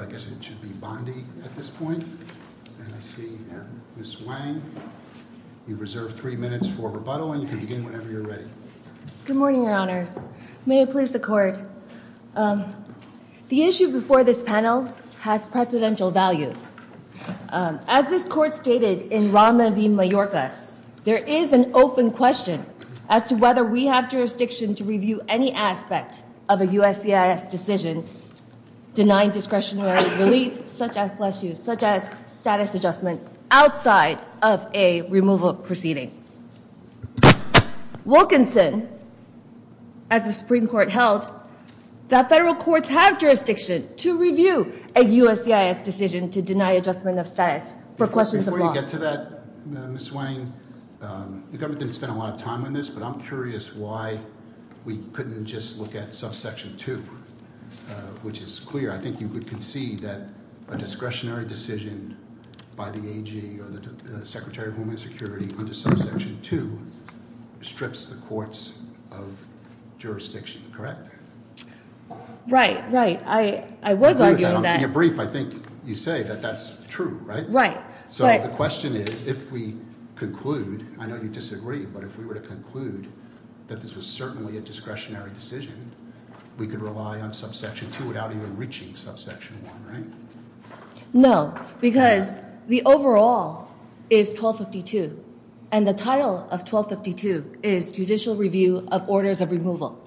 I guess it should be Bondi at this point, and I see Ms. Wang. You reserve three minutes for rebuttal and you can begin whenever you're ready. Good morning, Your Honors. May it please the Court. The issue before this panel has precedential value. As this Court stated in Rama v. Mayorkas, there is an open question as to whether we have jurisdiction to review any aspect of a USCIS decision denying discretionary relief such as, bless you, such as status adjustment outside of a removal proceeding. Wilkinson, as the Supreme Court held, that federal courts have jurisdiction to review a USCIS decision to deny adjustment of status for questions of law. Before you get to that, Ms. Wang, the government didn't spend a lot of time on this, but I'm curious why we couldn't just look at subsection two, which is clear. I think you could concede that a discretionary decision by the AG or the Secretary of Homeland Security under subsection two strips the courts of jurisdiction, correct? Right. Right. I was arguing that. In your brief, I think you say that that's true, right? Right. So the question is, if we conclude, I know you disagree, but if we were to conclude that this was certainly a discretionary decision, we could rely on subsection two without even reaching subsection one, right? No, because the overall is 1252, and the title of 1252 is Judicial Review of Orders of Removal.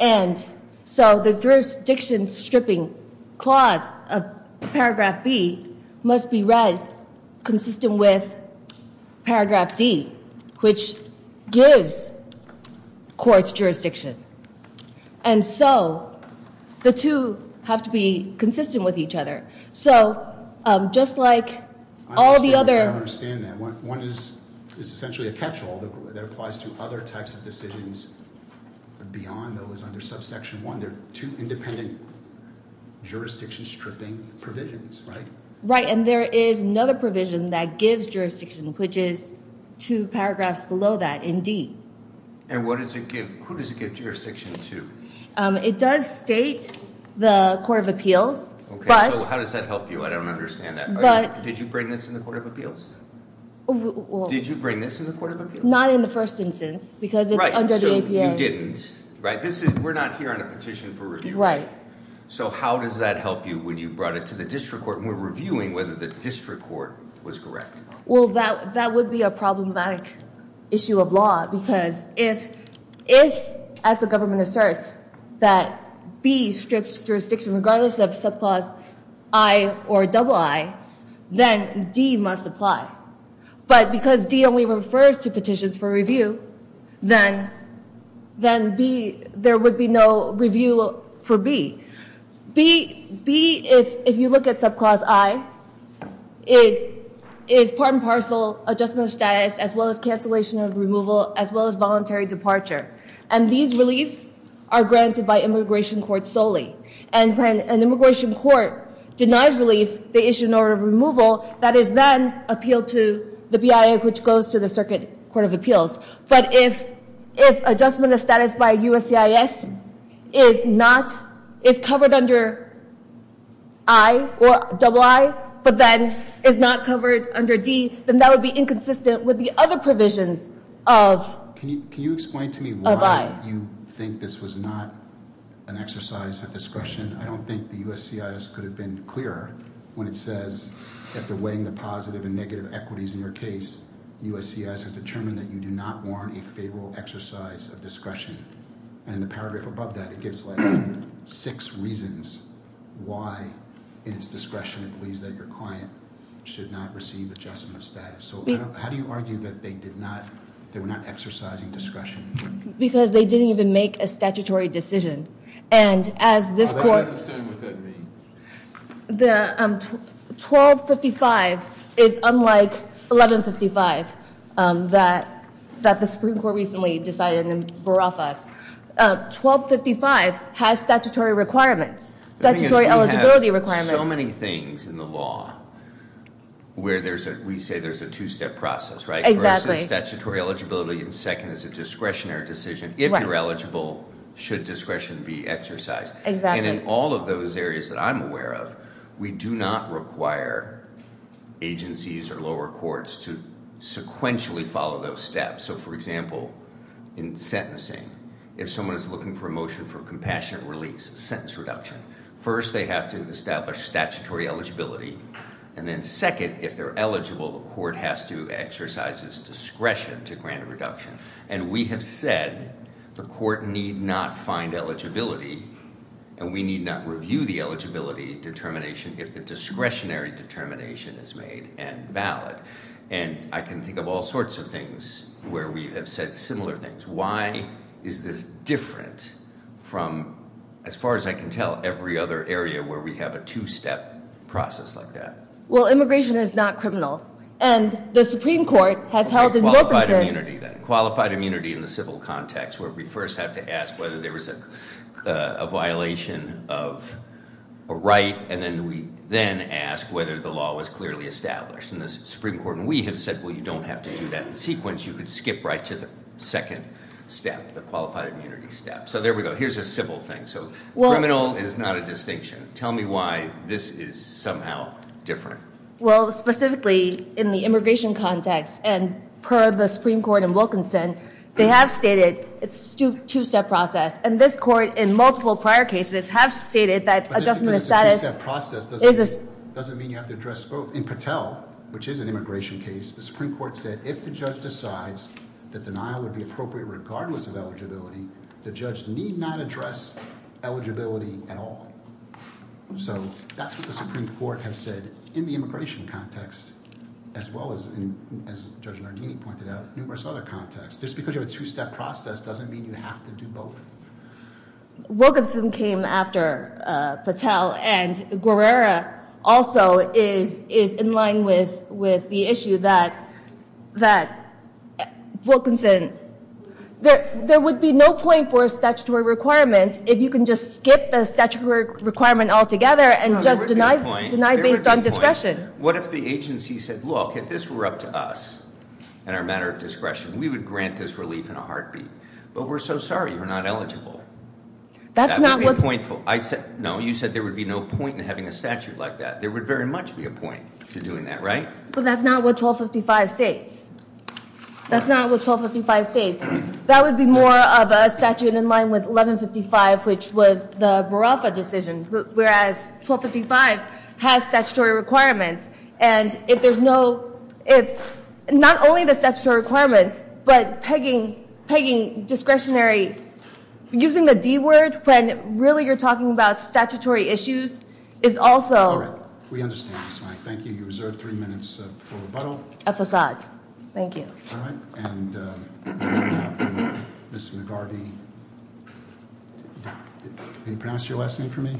And so the jurisdiction stripping clause of paragraph B must be read consistent with paragraph D, which gives courts jurisdiction. And so the two have to be consistent with each other. So just like all the other- I understand that. One is essentially a catch-all that applies to other types of decisions beyond those under subsection one. They're two independent jurisdiction stripping provisions, right? Right. And there is another provision that gives jurisdiction, which is two paragraphs below that in D. And what does it give? Who does it give jurisdiction to? It does state the Court of Appeals, but- So how does that help you? I don't understand that. Did you bring this in the Court of Appeals? Well- Did you bring this in the Court of Appeals? Not in the first instance, because it's under the APA. Right, so you didn't, right? We're not here on a petition for review. Right. So how does that help you when you brought it to the district court, and we're reviewing whether the district court was correct? Well, that would be a problematic issue of law, because if, as the government asserts, that B strips jurisdiction regardless of subclause I or double I, then D must apply. But because D only refers to petitions for review, then there would be no review for B. B, if you look at subclause I, is part and parcel adjustment of status, as well as cancellation of removal, as well as voluntary departure. And these reliefs are granted by immigration court solely. And when an immigration court denies relief, they issue an order of removal that is then appealed to the BIA, which goes to the Circuit Court of Appeals. But if adjustment of status by USCIS is not- is covered under I or double I, but then is not covered under D, then that would be inconsistent with the other provisions of- Can you explain to me why you think this was not an exercise of discretion? I don't think the USCIS could have been clearer when it says, after weighing the positive and negative equities in your case, USCIS has determined that you do not warrant a favorable exercise of discretion. And in the paragraph above that, it gives like six reasons why, in its discretion, it believes that your client should not receive adjustment of status. So how do you argue that they did not- they were not exercising discretion? Because they didn't even make a statutory decision. And as this court- I don't understand what that means. The 1255 is unlike 1155 that the Supreme Court recently decided and brought off us. 1255 has statutory requirements. Statutory eligibility requirements. There are so many things in the law where there's a- we say there's a two-step process, right? Exactly. Versus statutory eligibility, and second is a discretionary decision. If you're eligible, should discretion be exercised? Exactly. And in all of those areas that I'm aware of, we do not require agencies or lower courts to sequentially follow those steps. So, for example, in sentencing, if someone is looking for a motion for compassionate release, sentence reduction, first they have to establish statutory eligibility. And then second, if they're eligible, the court has to exercise its discretion to grant a reduction. And we have said the court need not find eligibility, and we need not review the eligibility determination if the discretionary determination is made and valid. And I can think of all sorts of things where we have said similar things. Why is this different from, as far as I can tell, every other area where we have a two-step process like that? Well, immigration is not criminal. And the Supreme Court has held in Wilkinson- Qualified immunity, then. Qualified immunity in the civil context, where we first have to ask whether there was a violation of a right, and then we then ask whether the law was clearly established. And the Supreme Court and we have said, well, you don't have to do that in sequence. You could skip right to the second step, the qualified immunity step. So there we go. Here's a simple thing. So criminal is not a distinction. Tell me why this is somehow different. Well, specifically in the immigration context, and per the Supreme Court in Wilkinson, they have stated it's a two-step process. And this court in multiple prior cases have stated that adjusting the status- But just because it's a two-step process doesn't mean you have to address both. In Patel, which is an immigration case, the Supreme Court said, if the judge decides that denial would be appropriate regardless of eligibility, the judge need not address eligibility at all. So that's what the Supreme Court has said in the immigration context, as well as, as Judge Nardini pointed out, numerous other contexts. Just because you have a two-step process doesn't mean you have to do both. Wilkinson came after Patel, and Guerrera also is in line with the issue that Wilkinson- There would be no point for a statutory requirement if you can just skip the statutory requirement altogether and just deny based on discretion. What if the agency said, look, if this were up to us and our matter of discretion, we would grant this relief in a heartbeat. But we're so sorry, you're not eligible. That would be pointful. No, you said there would be no point in having a statute like that. There would very much be a point to doing that, right? But that's not what 1255 states. That's not what 1255 states. That would be more of a statute in line with 1155, which was the Morafa decision, whereas 1255 has statutory requirements. And if there's no- If not only the statutory requirements, but pegging discretionary- Using the D word when really you're talking about statutory issues is also- All right, we understand this, Mike. Thank you. You reserve three minutes for rebuttal. F aside. Thank you. All right, and we have Ms. McGarvey- Can you pronounce your last name for me?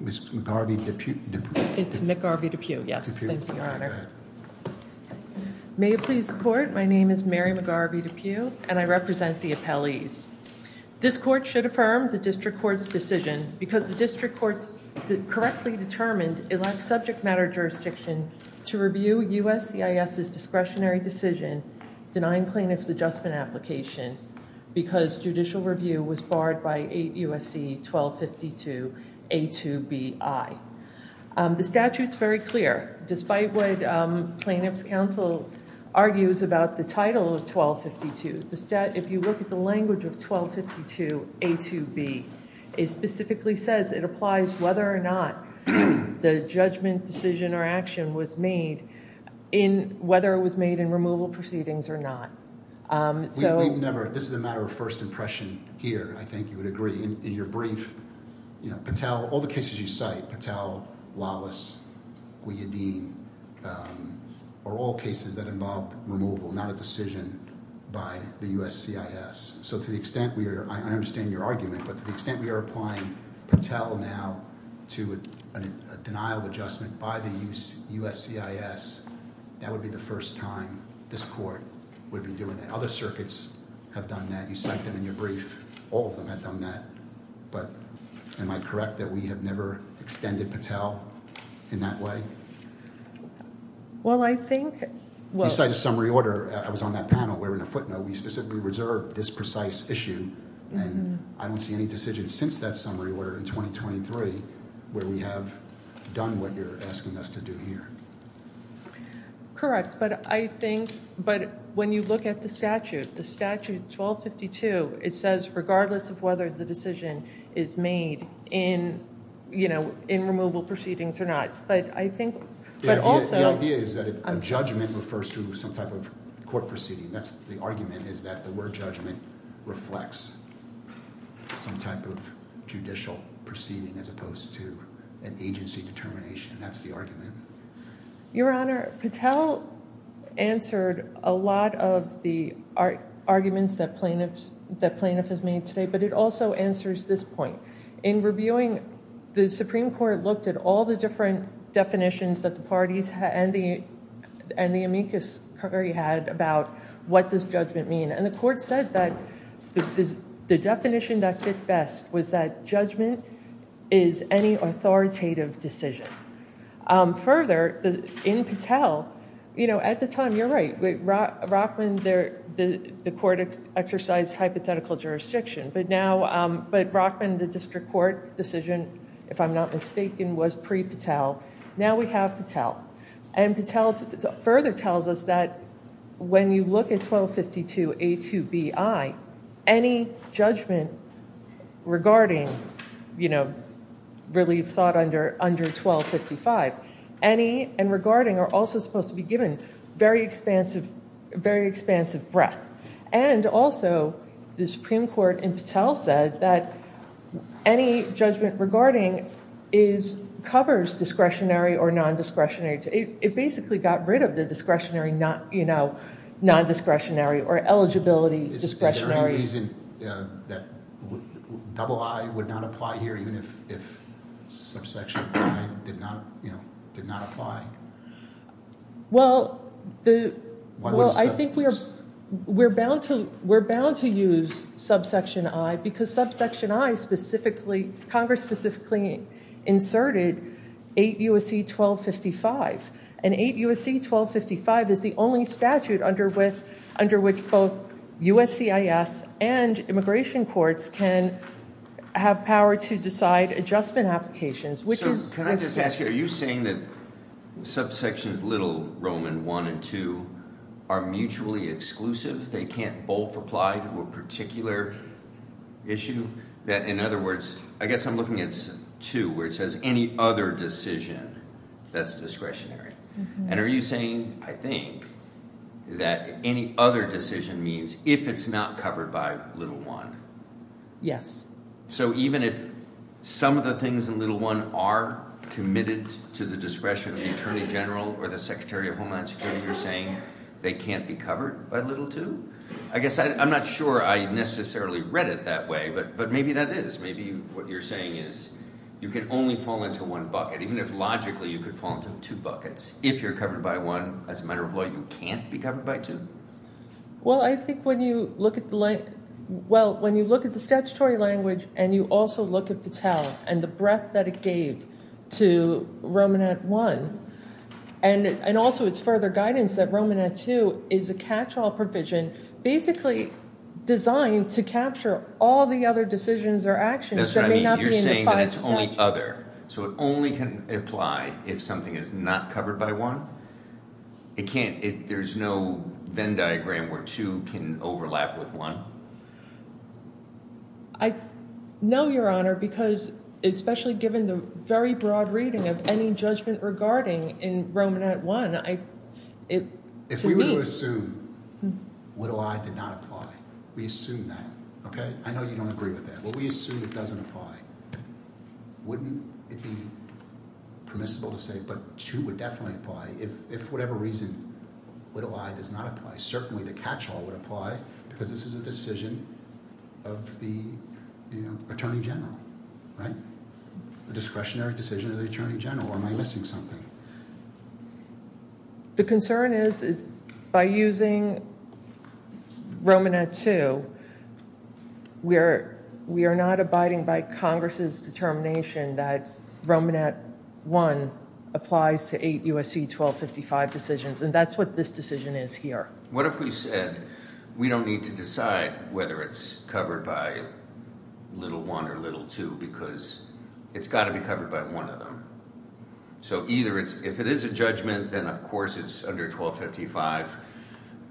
Ms. McGarvey-Deput- It's McGarvey-Deput, yes. Thank you, Your Honor. Go ahead. May it please the court, my name is Mary McGarvey-Deput, and I represent the appellees. This court should affirm the district court's decision because the district court correctly determined it lacks subject matter jurisdiction to review USCIS's discretionary decision denying plaintiff's adjustment application because judicial review was barred by 8 USC 1252 A2BI. The statute's very clear. Despite what plaintiff's counsel argues about the title of 1252, if you look at the language of 1252 A2B, it specifically says it applies whether or not the judgment, decision, or action was made in whether it was made in removal proceedings or not. We've never... this is a matter of first impression here. I think you would agree. In your brief, Patel... all the cases you cite, Patel, Lawless, Guiadin, are all cases that involved removal, not a decision by the USCIS. To the extent we are... I understand your argument, but to the extent we are applying Patel now to a denial adjustment by the USCIS, that would be the first time this court would be doing that. Other circuits have done that. You cite them in your brief. All of them have done that. But am I correct that we have never extended Patel in that way? Well, I think... You cite a summary order. I was on that panel where in a footnote we specifically reserved this precise issue, and I don't see any decision since that summary order in 2023 where we have done what you're asking us to do here. Correct, but I think... But when you look at the statute, the statute 1252, it says regardless of whether the decision is made in removal proceedings or not. But I think... The idea is that a judgment refers to some type of court proceeding. The argument is that the word judgment reflects some type of judicial proceeding as opposed to an agency determination. That's the argument. Your Honor, Patel answered a lot of the arguments that plaintiff has made today, but it also answers this point. In reviewing, the Supreme Court looked at all the different definitions that the parties and the amicus had about what does judgment mean, and the court said that the definition that fit best was that judgment is any authoritative decision. Further, in Patel, at the time, you're right, Rockman, the court exercised hypothetical jurisdiction, but Rockman, the district court decision, if I'm not mistaken, was pre-Patel. Now we have Patel. And Patel further tells us that when you look at 1252A2BI, any judgment regarding relief sought under 1255, any and regarding are also supposed to be given very expansive breath. And also, the Supreme Court in Patel said that any judgment regarding covers discretionary or nondiscretionary. It basically got rid of the discretionary, nondiscretionary or eligibility discretionary. Is there any reason that double I would not apply here even if subsection I did not apply? Well, I think we're bound to use subsection I because subsection I specifically, Congress specifically inserted 8 U.S.C. 1255. And 8 U.S.C. 1255 is the only statute under which both USCIS and immigration courts can have power to decide adjustment applications, which is- So can I just ask you, are you saying that subsections little Roman I and II are mutually exclusive? They can't both apply to a particular issue? That in other words, I guess I'm looking at II where it says any other decision that's discretionary. And are you saying, I think, that any other decision means if it's not covered by little I? Yes. So even if some of the things in little I are committed to the discretion of the Attorney General or the Secretary of Homeland Security, you're saying they can't be covered by little II? I guess I'm not sure I necessarily read it that way, but maybe that is. Maybe what you're saying is you can only fall into one bucket, even if logically you could fall into two buckets. If you're covered by I, as a matter of law, you can't be covered by II? Well, I think when you look at the- Well, when you look at the statutory language and you also look at Patel and the breadth that it gave to Roman I and also its further guidance that Roman II is a catch-all provision, basically designed to capture all the other decisions or actions that may not be in the five statutes. That's what I mean. You're saying that it's only other. So it only can apply if something is not covered by I? There's no Venn diagram where II can overlap with I? I know, Your Honor, because especially given the very broad reading of any judgment regarding in Roman I, to me- If we were to assume little I did not apply, we assume that, okay? I know you don't agree with that, but we assume it doesn't apply. Wouldn't it be permissible to say, but II would definitely apply if whatever reason little I does not apply. Certainly the catch-all would apply because this is a decision of the Attorney General, right? A discretionary decision of the Attorney General, or am I missing something? The concern is by using Roman II, we are not abiding by Congress' determination that Roman I applies to eight USC 1255 decisions, and that's what this decision is here. What if we said we don't need to decide whether it's covered by little I or little II because it's got to be covered by one of them? So if it is a judgment, then of course it's under 1255,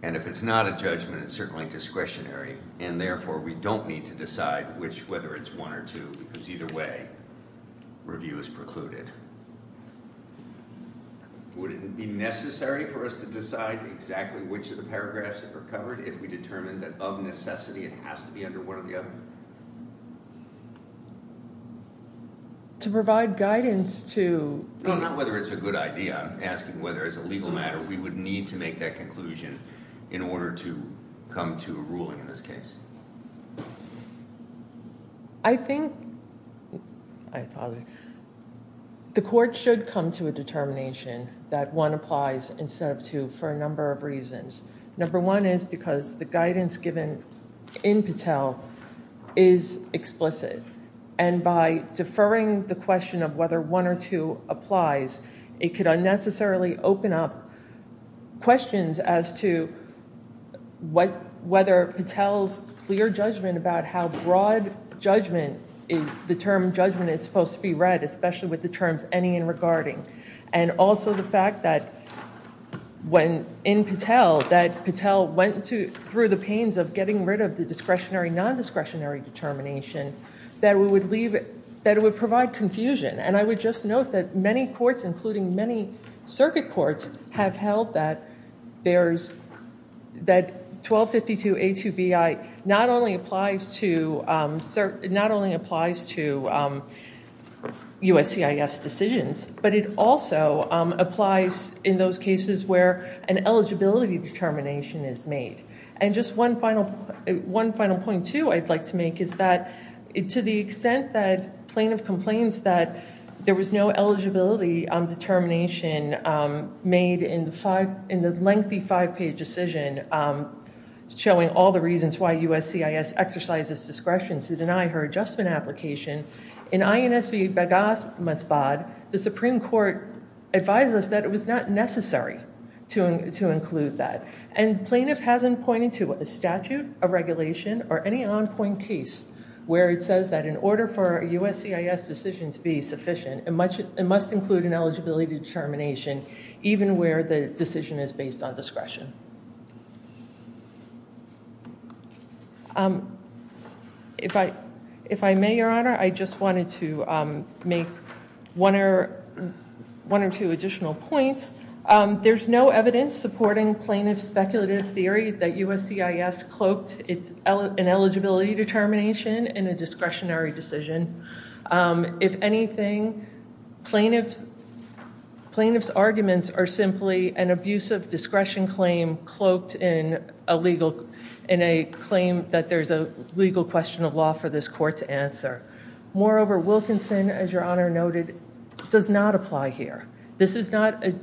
and if it's not a judgment, it's certainly discretionary, and therefore we don't need to decide whether it's I or II because either way, review is precluded. Would it be necessary for us to decide exactly which of the paragraphs are covered if we determine that of necessity it has to be under one or the other? To provide guidance to... No, not whether it's a good idea. I'm asking whether as a legal matter we would need to make that conclusion in order to come to a ruling in this case. I think the court should come to a determination that I applies instead of II for a number of reasons. Number one is because the guidance given in Patel is explicit, and by deferring the question of whether I or II applies, it could unnecessarily open up questions as to whether Patel's clear judgment about how broad judgment, the term judgment is supposed to be read, especially with the terms any and regarding, and also the fact that when in Patel, that Patel went through the pains of getting rid of the discretionary, non-discretionary determination, that it would provide confusion, and I would just note that many courts, including many circuit courts, have held that 1252A2BI not only applies to USCIS decisions, but it also applies in those cases where an eligibility determination is made, and just one final point, too, I'd like to make is that to the extent that plaintiff complains that there was no eligibility determination made in the lengthy five-page decision showing all the reasons why USCIS exercises discretion to deny her adjustment application, in INSB-BAGAS-MASBOD, the Supreme Court advised us that it was not necessary to include that, and plaintiff hasn't pointed to a statute, a regulation, or any on-point case where it says that in order for a USCIS decision to be sufficient, it must include an eligibility determination even where the decision is based on discretion. If I may, Your Honor, I just wanted to make one or two additional points. There's no evidence supporting plaintiff's speculative theory that USCIS cloaked an eligibility determination in a discretionary decision. If anything, plaintiff's arguments are simply an abusive discretion claim cloaked in a claim that there's a legal question of law for this court to answer. Moreover, Wilkinson, as Your Honor noted, does not apply here. That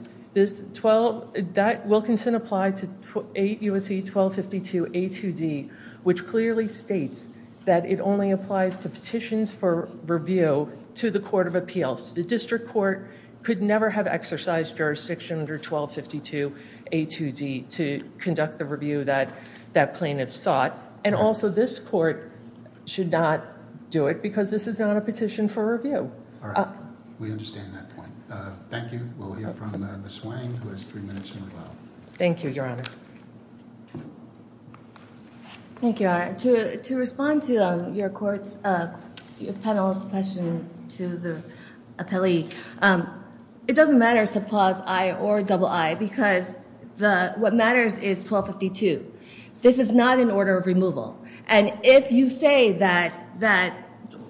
Wilkinson applied to 8 U.S.C. 1252 A.2.D., which clearly states that it only applies to petitions for review to the court of appeals. The district court could never have exercised jurisdiction under 1252 A.2.D. to conduct the review that plaintiff sought, and also this court should not do it because this is not a petition for review. All right. We understand that point. Thank you. We'll hear from Ms. Wang, who has three minutes to move on. Thank you, Your Honor. Thank you, Your Honor. To respond to your panelist's question to the appellee, it doesn't matter if it's a clause I or a double I because what matters is 1252. This is not an order of removal. And if you say that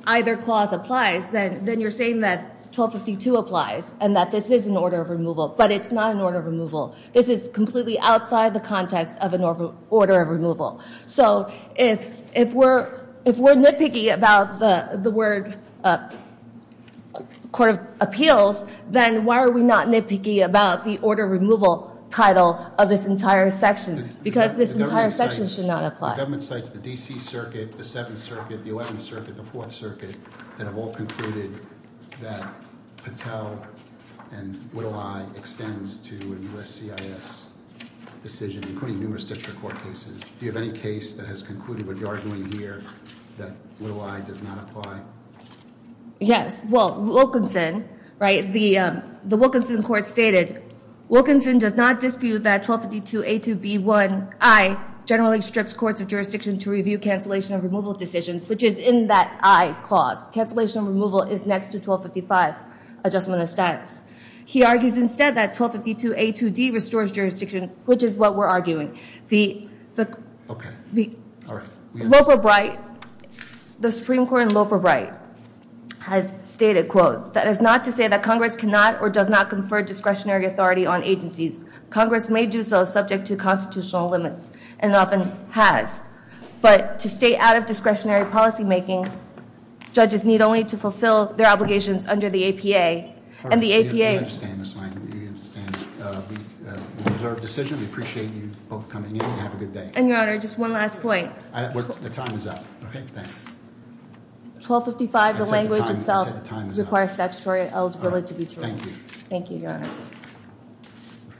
either clause applies, then you're saying that 1252 applies and that this is an order of removal, but it's not an order of removal. This is completely outside the context of an order of removal. So if we're nitpicky about the word court of appeals, then why are we not nitpicky about the order of removal title of this entire section? Because this entire section should not apply. The government cites the D.C. Circuit, the 7th Circuit, the 11th Circuit, the 4th Circuit, that have all concluded that Patel and Little I extends to a U.S. CIS decision, including numerous district court cases. Do you have any case that has concluded what you're arguing here, that Little I does not apply? Yes. Well, Wilkinson, right? The Wilkinson court stated, Wilkinson does not dispute that 1252A2B1I generally strips courts of jurisdiction to review cancellation of removal decisions, which is in that I clause. Cancellation of removal is next to 1255, adjustment of status. He argues instead that 1252A2D restores jurisdiction, which is what we're arguing. Okay. All right. Loper Bright, the Supreme Court in Loper Bright, has stated, quote, that is not to say that Congress cannot or does not confer discretionary authority on agencies. Congress may do so subject to constitutional limits, and often has. But to stay out of discretionary policymaking, judges need only to fulfill their obligations under the APA, and the APA- And Your Honor, just one last point. The time is up. Okay, thanks. 1255, the language itself requires statutory eligibility to be terminated. Thank you. Thank you, Your Honor.